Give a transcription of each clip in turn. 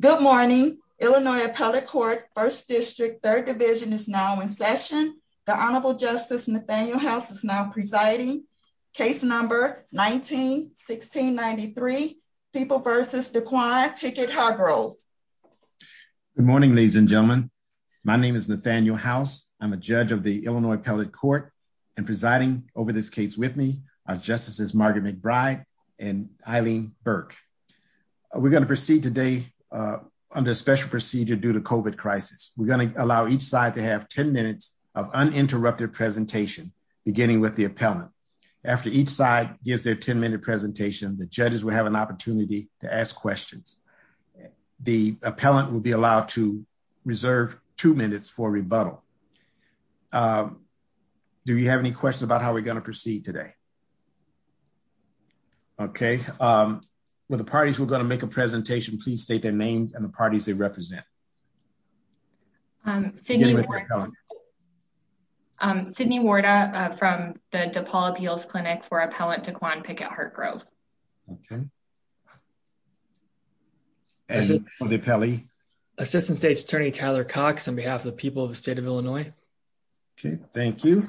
Good morning, Illinois Appellate Court, 1st District, 3rd Division is now in session. The Honorable Justice Nathaniel House is now presiding. Case number 19-1693, People v. DeQuine Pickett Hargrove. Good morning, ladies and gentlemen. My name is Nathaniel House. I'm a judge of the Illinois Appellate Court and presiding over this case with me are Justices Margaret McBride and Eileen Burke. We're going to proceed today under special procedure due to COVID crisis. We're going to allow each side to have 10 minutes of uninterrupted presentation, beginning with the appellant. After each side gives their 10-minute presentation, the judges will have an opportunity to ask questions. The appellant will be allowed to reserve two minutes for rebuttal. Do you have any questions about how we're going to proceed today? Okay. With the parties who are going to make a presentation, please state their names and the parties they represent. Sydney Warda from the DePaul Appeals Clinic for Appellant DeQuine Pickett Hargrove. Okay. And you, Mr. Appellee? Assistant State's Attorney Tyler Cox on behalf of the people of the state of Illinois. Okay, thank you.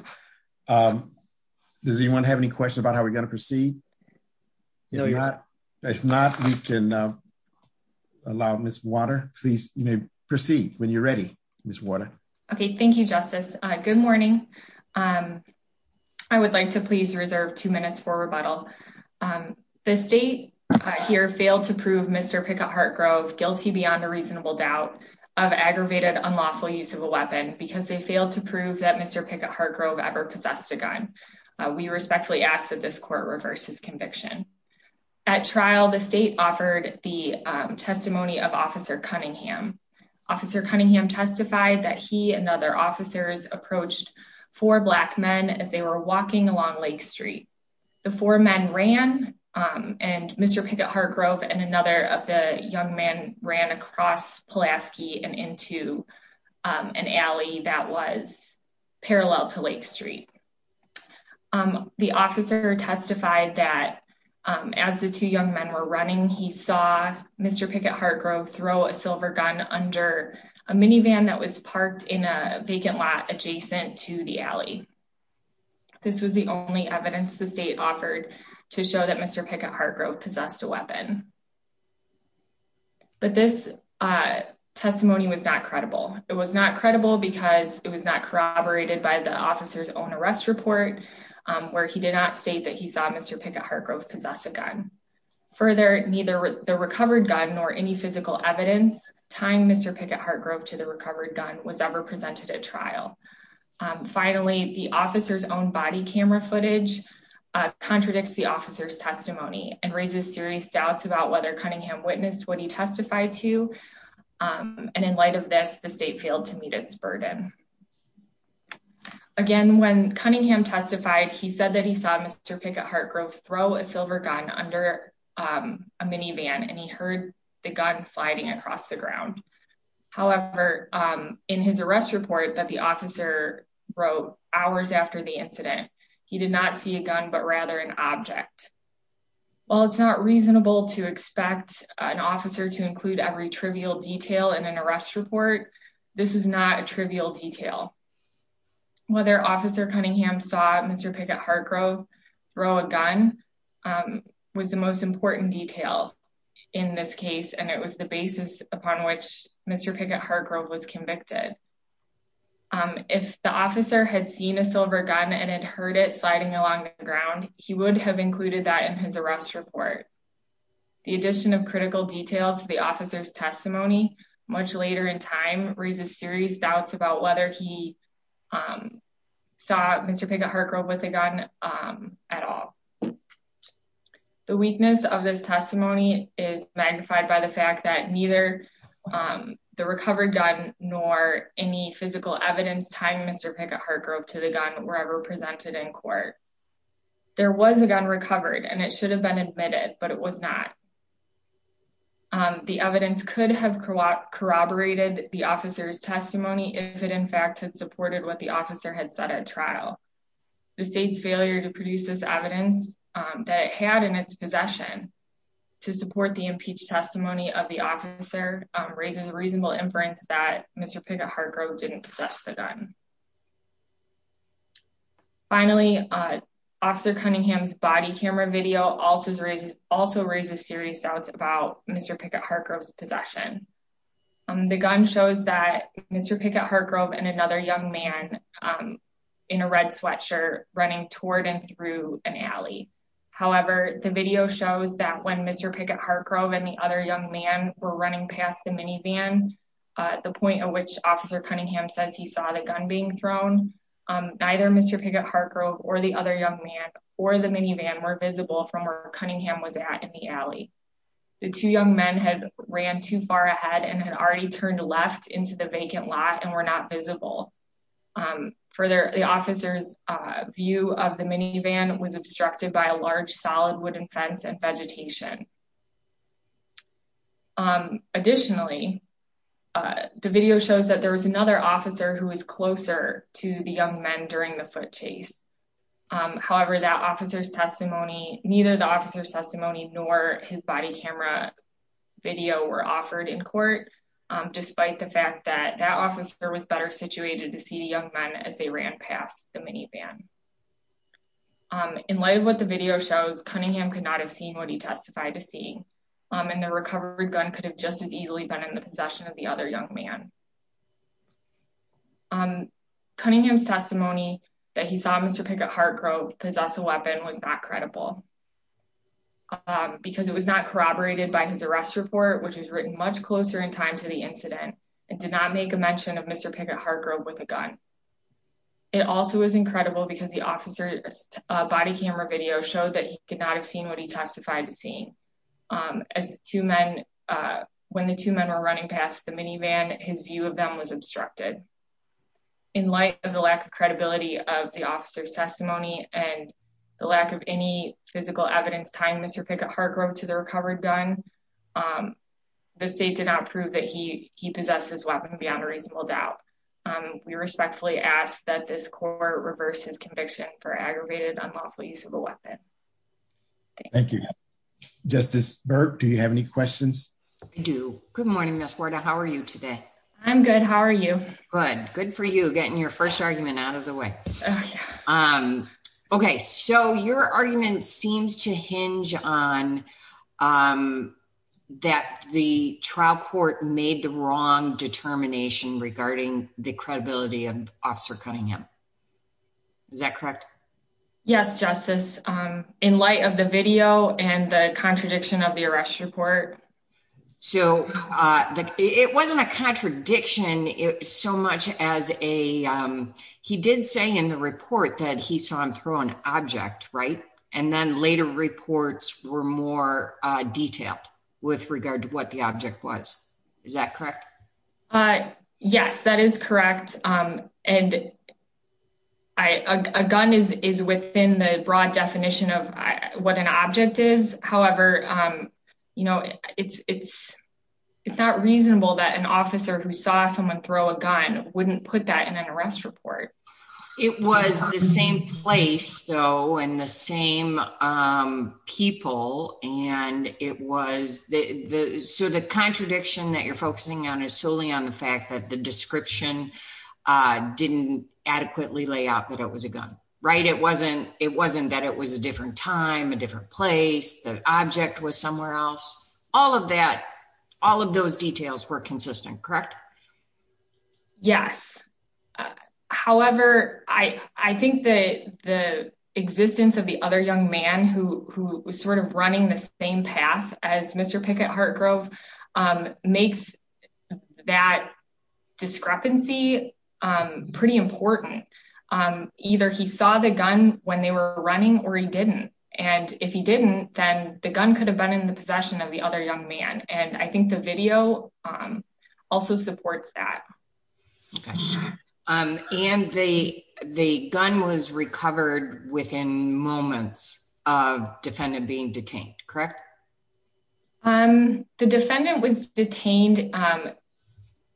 Does anyone have any questions about how we're going to proceed? If not, we can allow Ms. Warda, please proceed when you're ready, Ms. Warda. Okay. Thank you, Justice. Good morning. I would like to please reserve two minutes for rebuttal. The state here failed to prove Mr. Pickett Hargrove guilty beyond a reasonable doubt of aggravated unlawful use of a weapon because they failed to prove that Mr. Pickett Hargrove ever possessed a gun. We respectfully ask that this court reverse his conviction. At trial, the state offered the testimony of Officer Cunningham. Officer Cunningham testified that he and other officers approached four black men as they were walking along Lake Street. The four men ran, and Mr. Pickett Hargrove and another of the young men ran across Pulaski and into an alley that was parallel to Lake Street. The officer testified that as the two young men were running, he saw Mr. Pickett Hargrove throw a silver gun under a minivan that was parked in a vacant lot adjacent to the alley. This was the only evidence the state offered to show that Mr. Pickett Hargrove possessed a weapon. But this testimony was not credible. It was not credible because it was not corroborated by the officer's own arrest report, where he did not state that he saw Mr. Pickett Hargrove possess a gun. Further, neither the recovered gun nor any physical evidence tying Mr. Pickett Hargrove to the recovered gun was ever presented at trial. Finally, the officer's own body camera footage contradicts the officer's testimony and raises serious doubts about whether Cunningham witnessed what he testified to, and in light of this, the state failed to meet its burden. Again, when Cunningham testified, he said that he saw Mr. Pickett Hargrove throw a silver gun under a minivan, and he heard the gun sliding across the ground. However, in his arrest report that the officer wrote hours after the incident, he did not see a gun, but rather an object. While it's not reasonable to expect an officer to include every trivial detail in an arrest report, this was not a trivial detail. Whether Officer Cunningham saw Mr. Pickett Hargrove throw a gun was the most important detail in this case, and it was the basis upon which Mr. Pickett Hargrove was convicted. If the officer had seen a silver gun and had heard it sliding along the ground, he would have included that in his arrest report. The addition of critical details to the officer's testimony much later in time raises serious doubts about whether he saw Mr. Pickett Hargrove with a gun at all. The weakness of this testimony is magnified by the fact that neither the recovered gun nor any physical evidence tying Mr. Pickett Hargrove to the gun were ever presented in court. There was a gun recovered, and it should have been admitted, but it was not. The evidence could have corroborated the officer's testimony if it in fact had supported what the officer had said at trial. The state's failure to produce this evidence that it had in its possession to support the impeached testimony of the officer raises a reasonable inference that Mr. Pickett Hargrove didn't possess the gun. Finally, Officer Cunningham's body camera video also raises serious doubts about Mr. Pickett Hargrove's possession. The gun shows that Mr. Pickett Hargrove and another young man in a red sweatshirt running toward and through an alley. However, the video shows that when Mr. Pickett Hargrove and the other young man were running past the minivan at the point at which Officer Cunningham says he saw the gun being thrown, neither Mr. Pickett Hargrove or the other young man or the minivan were visible from where Cunningham was at in the alley. The two young men had ran too far ahead and had already turned left into the vacant lot and were not visible. Further, the officer's view of the minivan was obstructed by a large, solid wooden fence and vegetation. Additionally, the video shows that there was another officer who was closer to the young men during the foot chase. However, neither the officer's testimony nor his body camera video were offered in court, despite the fact that that officer was better situated to see the young men as they ran past the minivan. In light of what the video shows, Cunningham could not have seen what he testified to see, and the recovered gun could have just as easily been in the possession of the other young man. Cunningham's testimony that he saw Mr. Pickett Hargrove possess a weapon was not credible because it was not corroborated by his arrest report, which was written much closer in time to the incident and did not make a mention of Mr. Pickett Hargrove with a gun. It also was incredible because the officer's body camera video showed that he could not have seen what he testified to seeing. When the two men were running past the minivan, his view of them was obstructed. In light of the lack of credibility of the officer's testimony and the lack of any physical evidence tying Mr. Pickett Hargrove to the recovered gun, the state did not prove that he possessed his weapon beyond a reasonable doubt. We respectfully ask that this court reverse his conviction for aggravated unlawful use of a weapon. Thank you. Justice Burke, do you have any questions? I do. Good morning, Ms. Huerta. How are you today? I'm good. How are you? Good. Good for you, getting your first argument out of the way. Okay, so your argument seems to hinge on that the trial court made the wrong determination regarding the credibility of Officer Cunningham. Is that correct? Yes, Justice. In light of the video and the contradiction of the arrest report. So it wasn't a contradiction so much as he did say in the report that he saw him throw an object, right? And then later reports were more detailed with regard to what the object was. Is that correct? Yes, that is correct. And a gun is within the broad definition of what an object is. However, you know, it's, it's, it's not reasonable that an officer who saw someone throw a gun wouldn't put that in an arrest report. It was the same place, though, and the same people. And it was the so the contradiction that you're focusing on is solely on the fact that the description didn't adequately lay out that it was a gun, right? It wasn't, it wasn't that it was a different time, a different place, the object was somewhere else. All of that. All of those details were consistent, correct? Yes. However, I think that the existence of the other young man who was sort of running the same path as Mr. Pickett Hartgrove makes that discrepancy pretty important. Either he saw the gun when they were running or he didn't. And if he didn't, then the gun could have been in the possession of the other young man. And I think the video also supports that. And the the gun was recovered within moments of defendant being detained, correct? The defendant was detained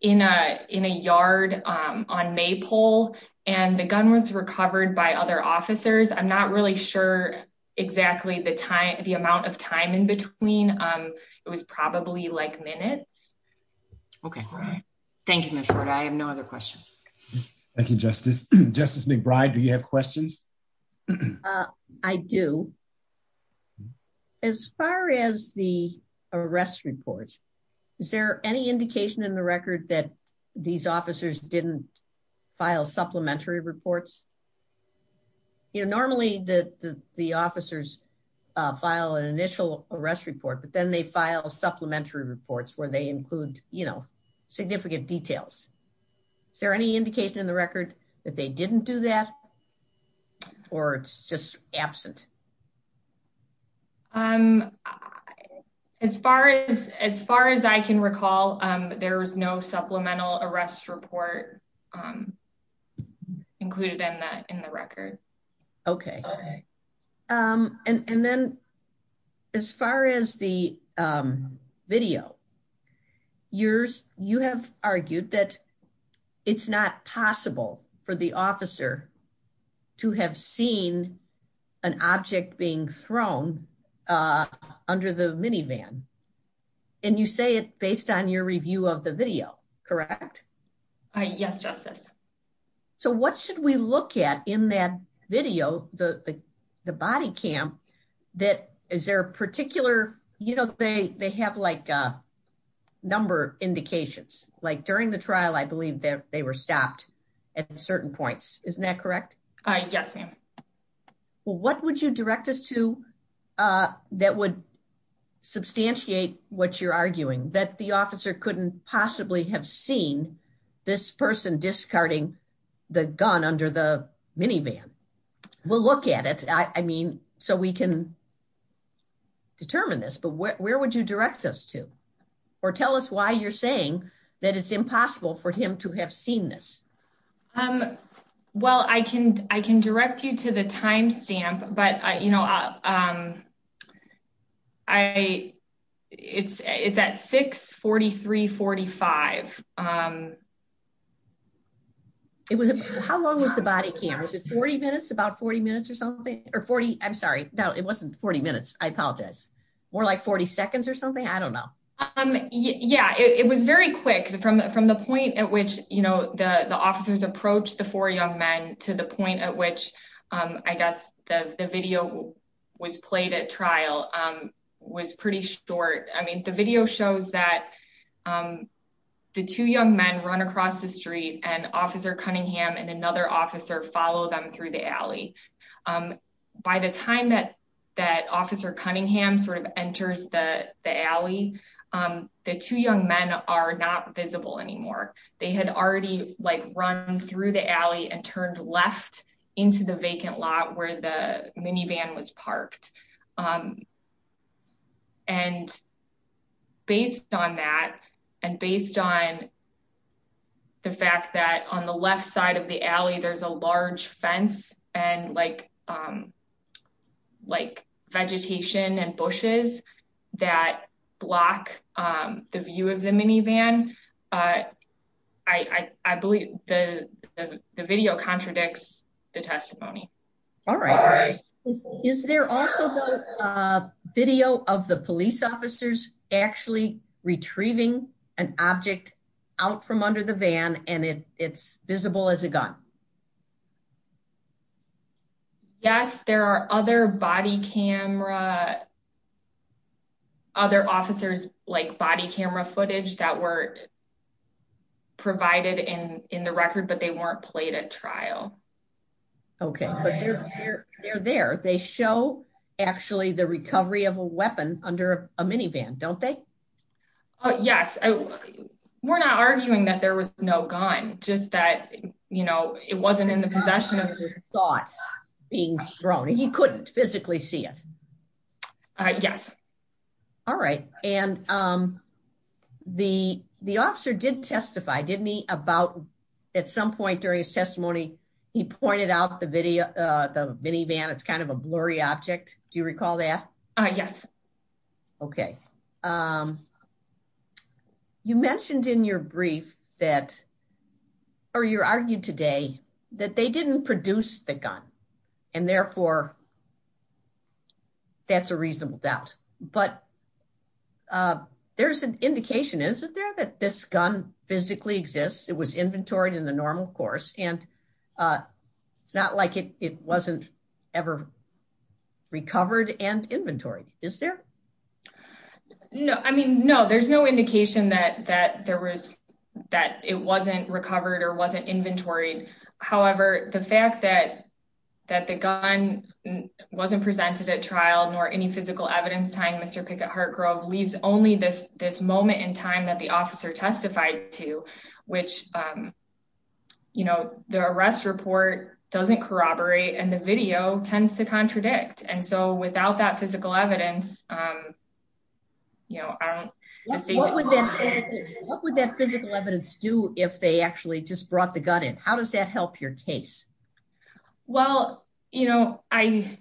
in a in a yard on Maypole and the gun was recovered by other officers. I'm not really sure exactly the time, the amount of time in between. It was probably like minutes. OK, thank you. I have no other questions. Thank you, Justice. Justice McBride, do you have questions? I do. As far as the arrest reports, is there any indication in the record that these officers didn't file supplementary reports? You know, normally the the officers file an initial arrest report, but then they file supplementary reports where they include, you know, significant details. Is there any indication in the record that they didn't do that or it's just absent? Um, as far as as far as I can recall, there was no supplemental arrest report included in that in the record. OK. And then as far as the video, you have argued that it's not possible for the officer to have seen an object being thrown under the minivan. And you say it based on your review of the video, correct? Yes, Justice. So what should we look at in that video? The the body cam that is there a particular, you know, they they have like a number indications like during the trial, I believe that they were stopped at certain points. Isn't that correct? Yes, ma'am. Well, what would you direct us to that would substantiate what you're arguing that the officer couldn't possibly have seen this person discarding the gun under the minivan? We'll look at it. I mean, so we can. Determine this, but where would you direct us to or tell us why you're saying that it's impossible for him to have seen this? Well, I can I can direct you to the timestamp, but, you know, I it's it's at six forty three forty five. It was how long was the body cameras at 40 minutes, about 40 minutes or something or 40. I'm sorry. No, it wasn't 40 minutes. I apologize. More like 40 seconds or something. I don't know. Yeah, it was very quick from from the point at which, you know, the officers approached the four young men to the point at which I guess the video was played at trial was pretty short. I mean, the video shows that the two young men run across the street and officer Cunningham and another officer follow them through the alley. By the time that that officer Cunningham sort of enters the alley, the two young men are not visible anymore. They had already run through the alley and turned left into the vacant lot where the minivan was parked. And based on that and based on. The fact that on the left side of the alley, there's a large fence and like like vegetation and bushes that block the view of the minivan, I believe the video contradicts the testimony. All right. Is there also a video of the police officers actually retrieving an object out from under the van and it's visible as a gun? Yes, there are other body camera. Other officers like body camera footage that were provided in the record, but they weren't played at trial. Okay, but they're there. They show actually the recovery of a weapon under a minivan. Don't they? Yes. We're not arguing that there was no gun, just that, you know, it wasn't in the possession of his thoughts being thrown. He couldn't physically see it. Yes. All right. And the, the officer did testify, didn't he, about at some point during his testimony, he pointed out the video, the minivan, it's kind of a blurry object. Do you recall that? Yes. Okay. You mentioned in your brief that, or you argued today, that they didn't produce the gun. And therefore, that's a reasonable doubt. But there's an indication, isn't there, that this gun physically exists? It was inventoried in the normal course. And it's not like it wasn't ever recovered and inventoried, is there? No, I mean, no, there's no indication that there was, that it wasn't recovered or wasn't inventoried. However, the fact that, that the gun wasn't presented at trial, nor any physical evidence tying Mr. Pickett-Hartgrove leaves only this, this moment in time that the officer testified to, which, you know, the arrest report doesn't corroborate and the video tends to contradict. And so without that physical evidence, you know, I don't. What would that physical evidence do if they actually just brought the gun in? How does that help your case? Well, you know, I,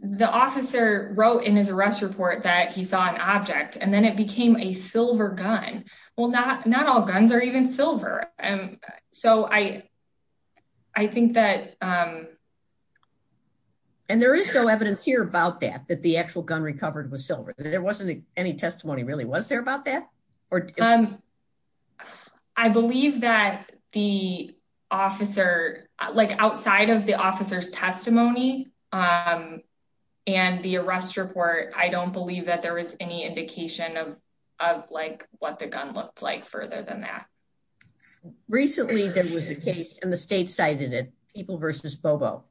the officer wrote in his arrest report that he saw an object and then it became a silver gun. Well, not, not all guns are even silver. And so I, I think that. And there is no evidence here about that, that the actual gun recovered was silver. There wasn't any testimony really was there about that? I believe that the officer, like outside of the officer's testimony and the arrest report, I don't believe that there was any indication of, of like what the gun looked like further than that. Recently, there was a case and the state cited it, people versus Bobo.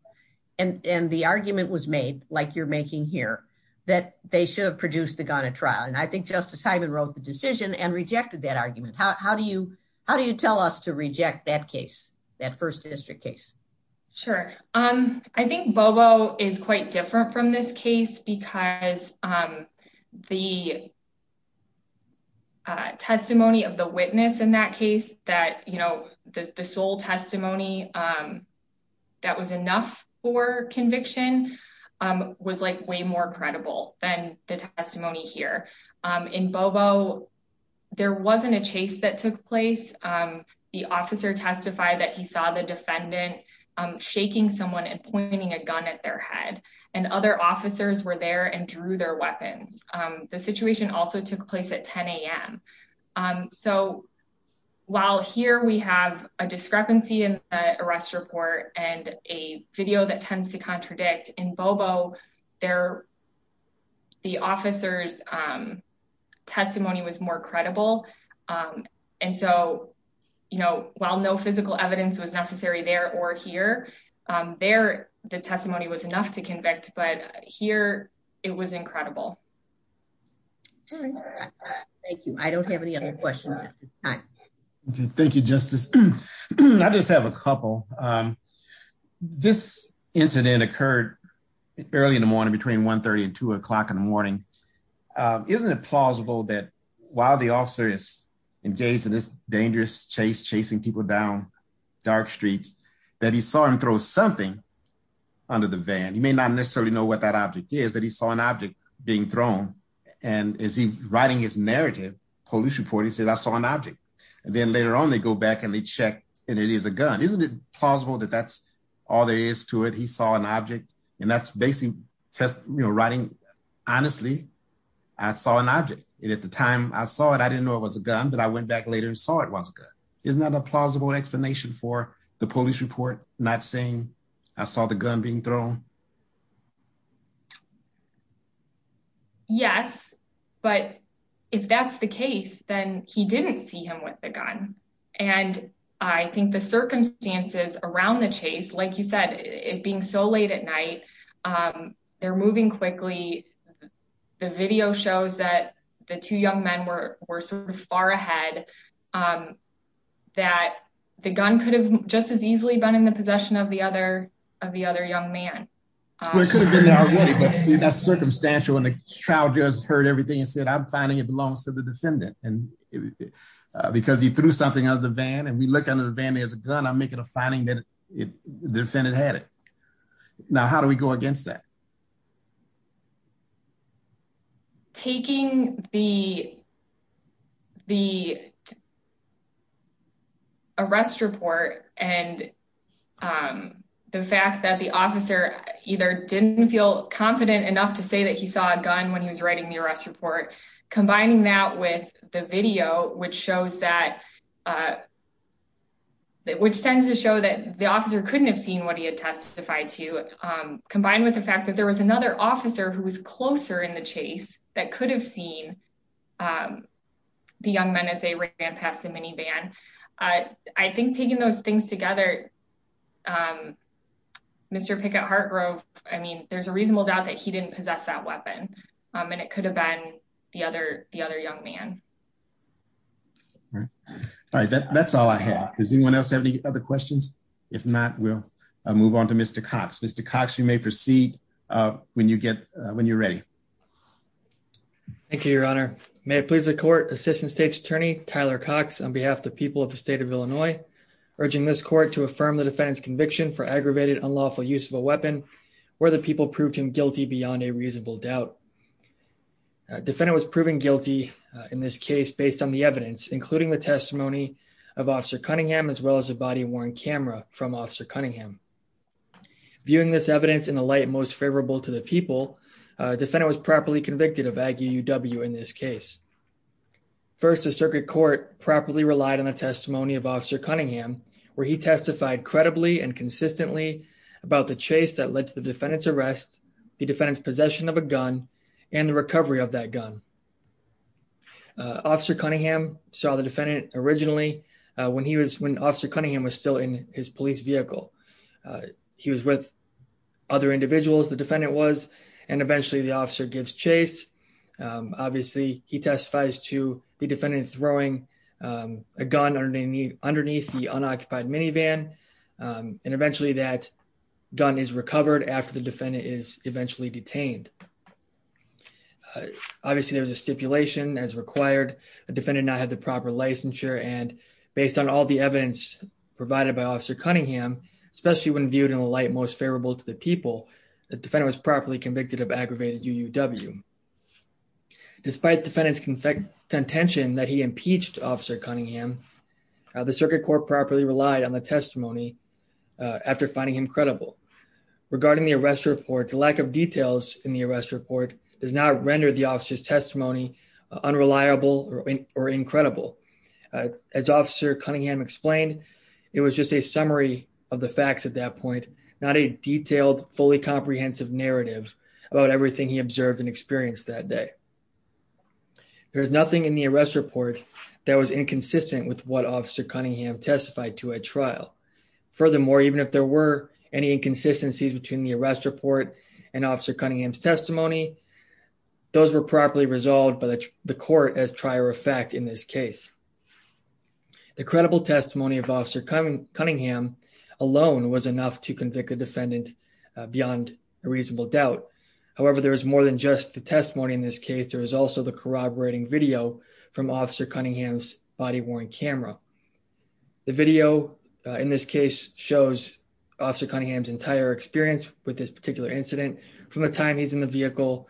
And, and the argument was made like you're making here that they should have produced the gun at trial. And I think justice Simon wrote the decision and rejected that argument. How, how do you, how do you tell us to reject that case? That first district case? Sure. I think Bobo is quite different from this case because the testimony of the witness in that case that, you know, the sole testimony that was enough for conviction was like way more credible than the testimony here in Bobo. There wasn't a chase that took place. The officer testified that he saw the defendant shaking someone and pointing a gun at their head and other officers were there and drew their weapons. The situation also took place at 10 a.m. So while here we have a discrepancy in the arrest report and a video that tends to contradict in Bobo there, the officer's testimony was more credible. And so, you know, while no physical evidence was necessary there or here, there, the testimony was enough to convict. But here it was incredible. Thank you. I don't have any other questions. Thank you, Justice. I just have a couple. This incident occurred early in the morning, between 1.30 and 2 o'clock in the morning. Isn't it plausible that while the officer is engaged in this dangerous chase, chasing people down dark streets, that he saw him throw something under the van? He may not necessarily know what that object is, but he saw an object being thrown. And as he's writing his narrative police report, he said, I saw an object. And then later on, they go back and they check and it is a gun. Isn't it plausible that that's all there is to it? He saw an object. And that's basically writing, honestly, I saw an object. And at the time I saw it, I didn't know it was a gun, but I went back later and saw it was a gun. Isn't that a plausible explanation for the police report not saying I saw the gun being thrown? Yes, but if that's the case, then he didn't see him with the gun. And I think the circumstances around the chase, like you said, it being so late at night, they're moving quickly. The video shows that the two young men were sort of far ahead, that the gun could have just as easily been in the possession of the other of the other young man. It could have been there already, but that's circumstantial. And the child just heard everything and said, I'm finding it belongs to the something of the van. And we looked under the van, there's a gun. I'm making a finding that the defendant had it. Now, how do we go against that? Taking the the arrest report and the fact that the officer either didn't feel confident enough to say that he saw a gun when he was writing the arrest report, combining that with the video, which shows that. Which tends to show that the officer couldn't have seen what he had testified to, combined with the fact that there was another officer who was closer in the chase that could have seen the young men as they ran past the minivan. I think taking those things together. Mr. Pickett Hartgrove, I mean, there's a reasonable doubt that he didn't possess that young man. All right, that's all I have. Does anyone else have any other questions? If not, we'll move on to Mr. Cox. Mr. Cox, you may proceed when you get when you're ready. Thank you, Your Honor. May it please the court. Assistant State's Attorney Tyler Cox, on behalf of the people of the state of Illinois, urging this court to affirm the defendant's conviction for aggravated unlawful use of a weapon where the people proved him guilty beyond a reasonable doubt. Defendant was proven guilty in this case based on the evidence, including the testimony of Officer Cunningham, as well as a body worn camera from Officer Cunningham. Viewing this evidence in the light most favorable to the people, defendant was properly convicted of Aggie UW in this case. First, the circuit court properly relied on the testimony of Officer Cunningham, where he testified credibly and consistently about the chase that led to the defendant's arrest, the defendant's possession of a gun and the recovery of that gun. Officer Cunningham saw the defendant originally when he was when Officer Cunningham was still in his police vehicle. He was with other individuals. The defendant was. And eventually the officer gives chase. Obviously, he testifies to the defendant throwing a gun underneath the unoccupied minivan. And eventually that gun is recovered after the defendant is eventually detained. Obviously, there was a stipulation as required. The defendant not have the proper licensure and based on all the evidence provided by Officer Cunningham, especially when viewed in the light most favorable to the people, the defendant was properly convicted of aggravated UW. Despite defendant's contention that he impeached Officer Cunningham, the circuit court properly relied on the testimony after finding him credible. Regarding the arrest report, the lack of details in the arrest report does not render the officer's testimony unreliable or incredible. As Officer Cunningham explained, it was just a summary of the facts at that point, not a detailed, fully comprehensive narrative about everything he observed and experienced that day. There's nothing in the arrest report that was inconsistent with what Officer Cunningham testified to at trial. Furthermore, even if there were any inconsistencies between the arrest report and Officer Cunningham's testimony, those were properly resolved by the court as trier of fact in this case. The credible testimony of Officer Cunningham alone was enough to convict the defendant beyond a reasonable doubt. However, there is more than just the testimony in this case. There is also the corroborating video from Officer Cunningham's body-worn camera. The video in this case shows Officer Cunningham's entire experience with this particular incident from the time he's in the vehicle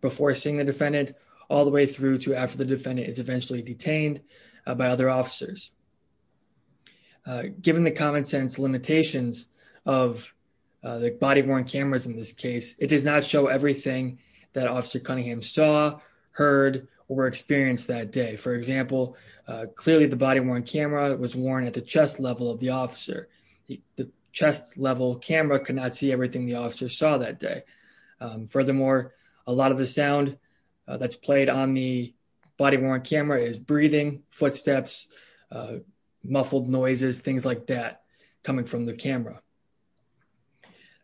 before seeing the defendant all the way through to after the defendant is eventually detained by other officers. Given the common sense limitations of the body-worn cameras in this case, it does not show everything that Officer Cunningham saw, heard, or experienced that day. For example, clearly the body-worn camera was worn at the chest level of the officer. The chest level camera could not see everything the officer saw that day. Furthermore, a lot of the sound that's played on the body-worn camera is breathing, footsteps, muffled noises, things like that coming from the camera.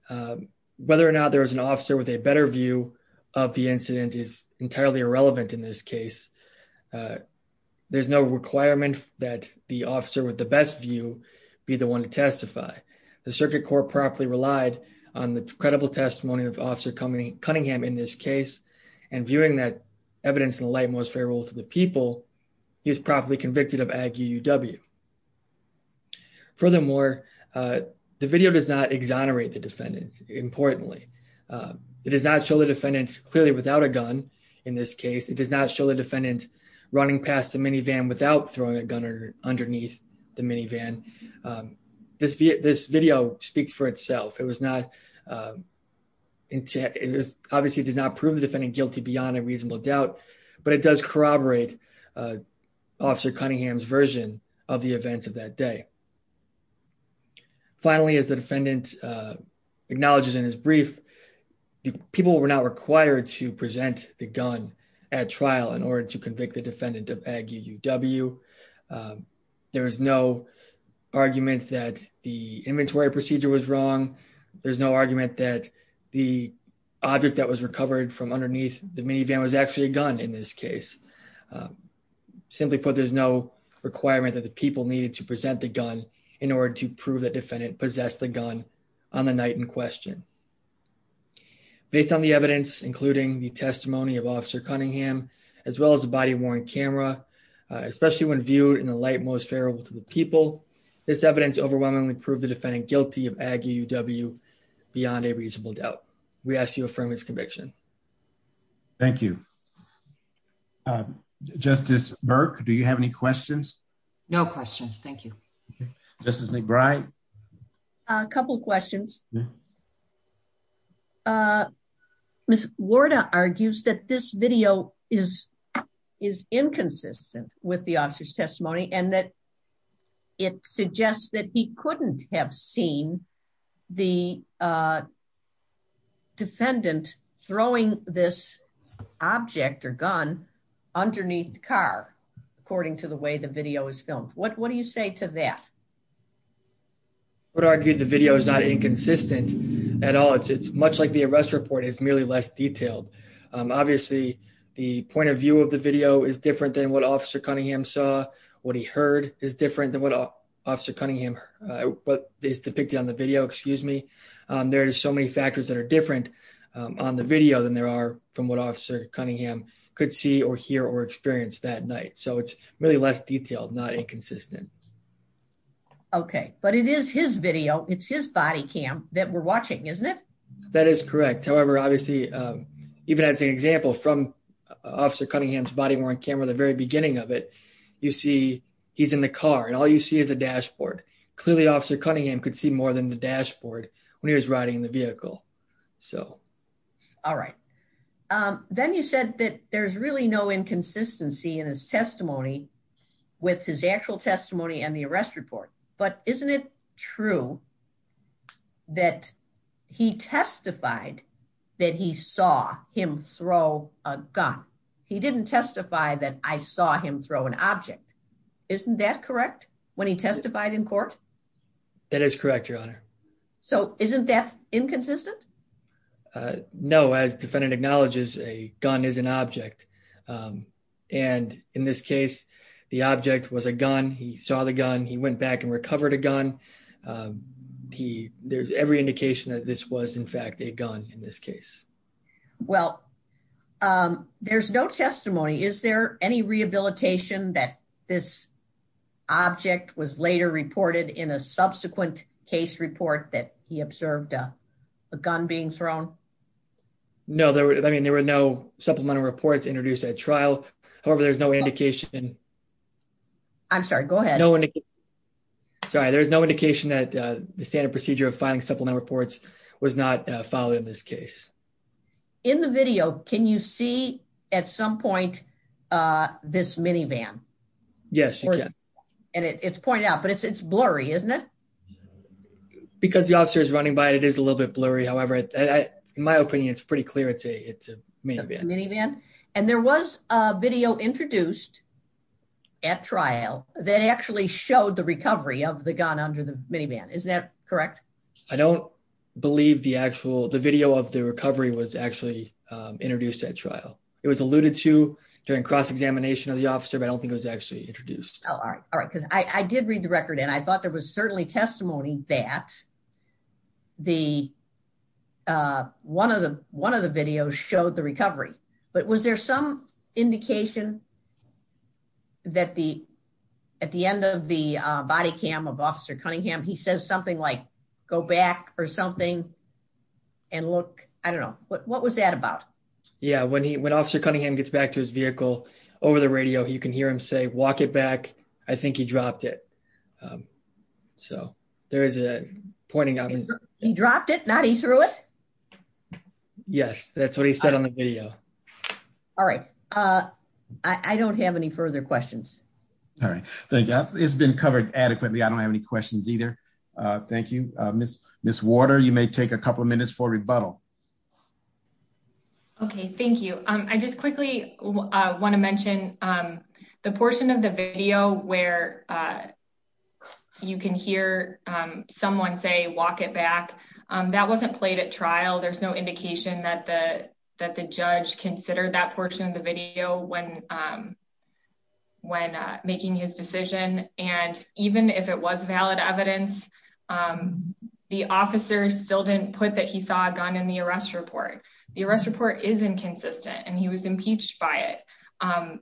Whether or not there is an officer with a better view of the incident is entirely irrelevant in this case. There's no requirement that the officer with the best view be the one to testify. The Circuit Court properly relied on the credible testimony of Officer Cunningham in this case, and viewing that evidence in the light most fair rule to the people, he was properly convicted of Ag UUW. Furthermore, the video does not exonerate the defendant, importantly. It does not show the defendant clearly without a gun in this case. It does not show the defendant running past the minivan without throwing a gun underneath the minivan. This video speaks for itself. It obviously does not prove the defendant guilty beyond a reasonable doubt, but it does corroborate Officer Cunningham's version of the events of that day. Finally, as the defendant acknowledges in his brief, people were not required to present the gun at trial in order to convict the defendant of Ag UUW. There is no argument that the inventory procedure was wrong. There's no argument that the object that was recovered from underneath the minivan was actually a gun in this case. Simply put, there's no requirement that the people needed to present the gun in order to prove that defendant possessed the gun on the night in question. Based on the evidence, including the testimony of Officer Cunningham, as well as the body-worn camera, especially when viewed in the light most favorable to the people, this evidence overwhelmingly proved the defendant guilty of Ag UUW beyond a reasonable doubt. We ask you affirm his conviction. Thank you. Justice Burke, do you have any questions? Justice McBride? A couple of questions. Ms. Warda argues that this video is inconsistent with the officer's testimony and that it suggests that he couldn't have seen the defendant throwing this object or gun underneath the car, according to the way the video was filmed. What do you say to that? I would argue the video is not inconsistent at all. It's much like the arrest report, it's merely less detailed. Obviously, the point of view of the video is different than what Officer Cunningham saw, what he heard is different than what Officer Cunningham is depicting on the video. There are so many factors that are different on the video than there are from what Officer Cunningham could see or hear or experience that night, so it's really less detailed, not inconsistent. Okay. But it is his video, it's his body cam that we're watching, isn't it? That is correct. However, obviously, even as an example from Officer Cunningham's body-worn camera at the very beginning of it, you see he's in the car and all you see is the dashboard. Clearly, Officer Cunningham could see more than the dashboard when he was riding in the vehicle. All right. Then you said that there's really no inconsistency in his testimony with his actual testimony and the arrest report, but isn't it true that he testified that he saw him throw a gun? He didn't testify that I saw him throw an object. Isn't that correct when he testified in court? That is correct, Your Honor. So isn't that inconsistent? No, as defendant acknowledges, a gun is an object. And in this case, the object was a gun. He saw the gun. He went back and recovered a gun. There's every indication that this was, in fact, a gun in this case. Well, there's no testimony. Is there any rehabilitation that this object was later reported in a subsequent case report that he observed a gun being thrown? No. I mean, there were no supplemental reports introduced at trial. However, there's no indication. I'm sorry. Go ahead. Sorry. There's no indication that the standard procedure of filing supplemental reports was not followed in this case. In the video, can you see at some point this minivan? Yes, you can. And it's pointed out, but it's blurry, isn't it? Because the officer is running by it, it is a little bit blurry. However, in my opinion, it's pretty clear it's a minivan. A minivan. And there was a video introduced at trial that actually showed the recovery of the gun under the minivan. Is that correct? I don't believe the video of the recovery was actually introduced at trial. It was alluded to during cross-examination of the officer, but I don't think it was actually introduced. Oh, all right. Because I did read the record, and I thought there was certainly testimony that one of the videos showed the recovery. But was there some indication that at the end of the body cam of Officer Cunningham, he says something like, go back or something and look? I don't know. What was that about? Yeah. When Officer Cunningham gets back to his vehicle over the radio, you can hear him say, walk it back. I think he dropped it. So there is a pointing out. He dropped it, not he threw it? Yes, that's what he said on the video. All right. I don't have any further questions. All right. Thank you. It's been covered adequately. I don't have any questions either. Thank you. Ms. Water, you may take a couple of minutes for rebuttal. Okay, thank you. I just quickly want to mention the portion of the video where you can hear someone say, walk it back. That wasn't played at trial. There's no indication that the judge considered that portion of the video when making his decision. And even if it was valid evidence, the officer still didn't put that he saw a gun in the arrest report. The arrest report is inconsistent, and he was impeached by it.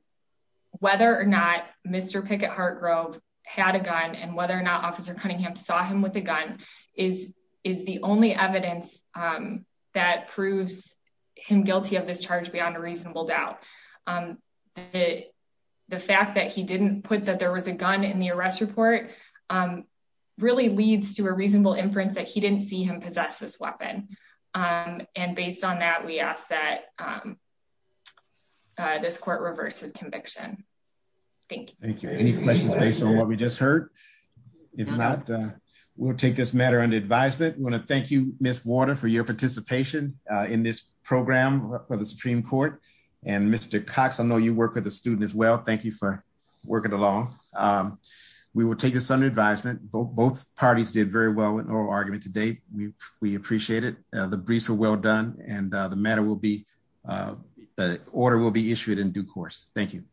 Whether or not Mr. Pickett-Hartgrove had a gun and whether or not Officer Cunningham saw him with a gun is the only evidence that proves him guilty of this charge beyond a reasonable doubt. The fact that he didn't put that there was a gun in the arrest report really leads to a reasonable inference that he didn't see him possess this weapon. And based on that, we ask that this court reverse his conviction. Thank you. Thank you. Any questions based on what we just heard? If not, we'll take this matter under advisement. I want to thank you, Ms. Water, for your participation in this program for the Supreme Court. And Mr. Cox, I know you work with a student as well. Thank you for working along. We will take this under advisement. Both parties did very well with oral argument today. We appreciate it. The briefs were well done, and the matter will be – the order will be issued in due course. Thank you.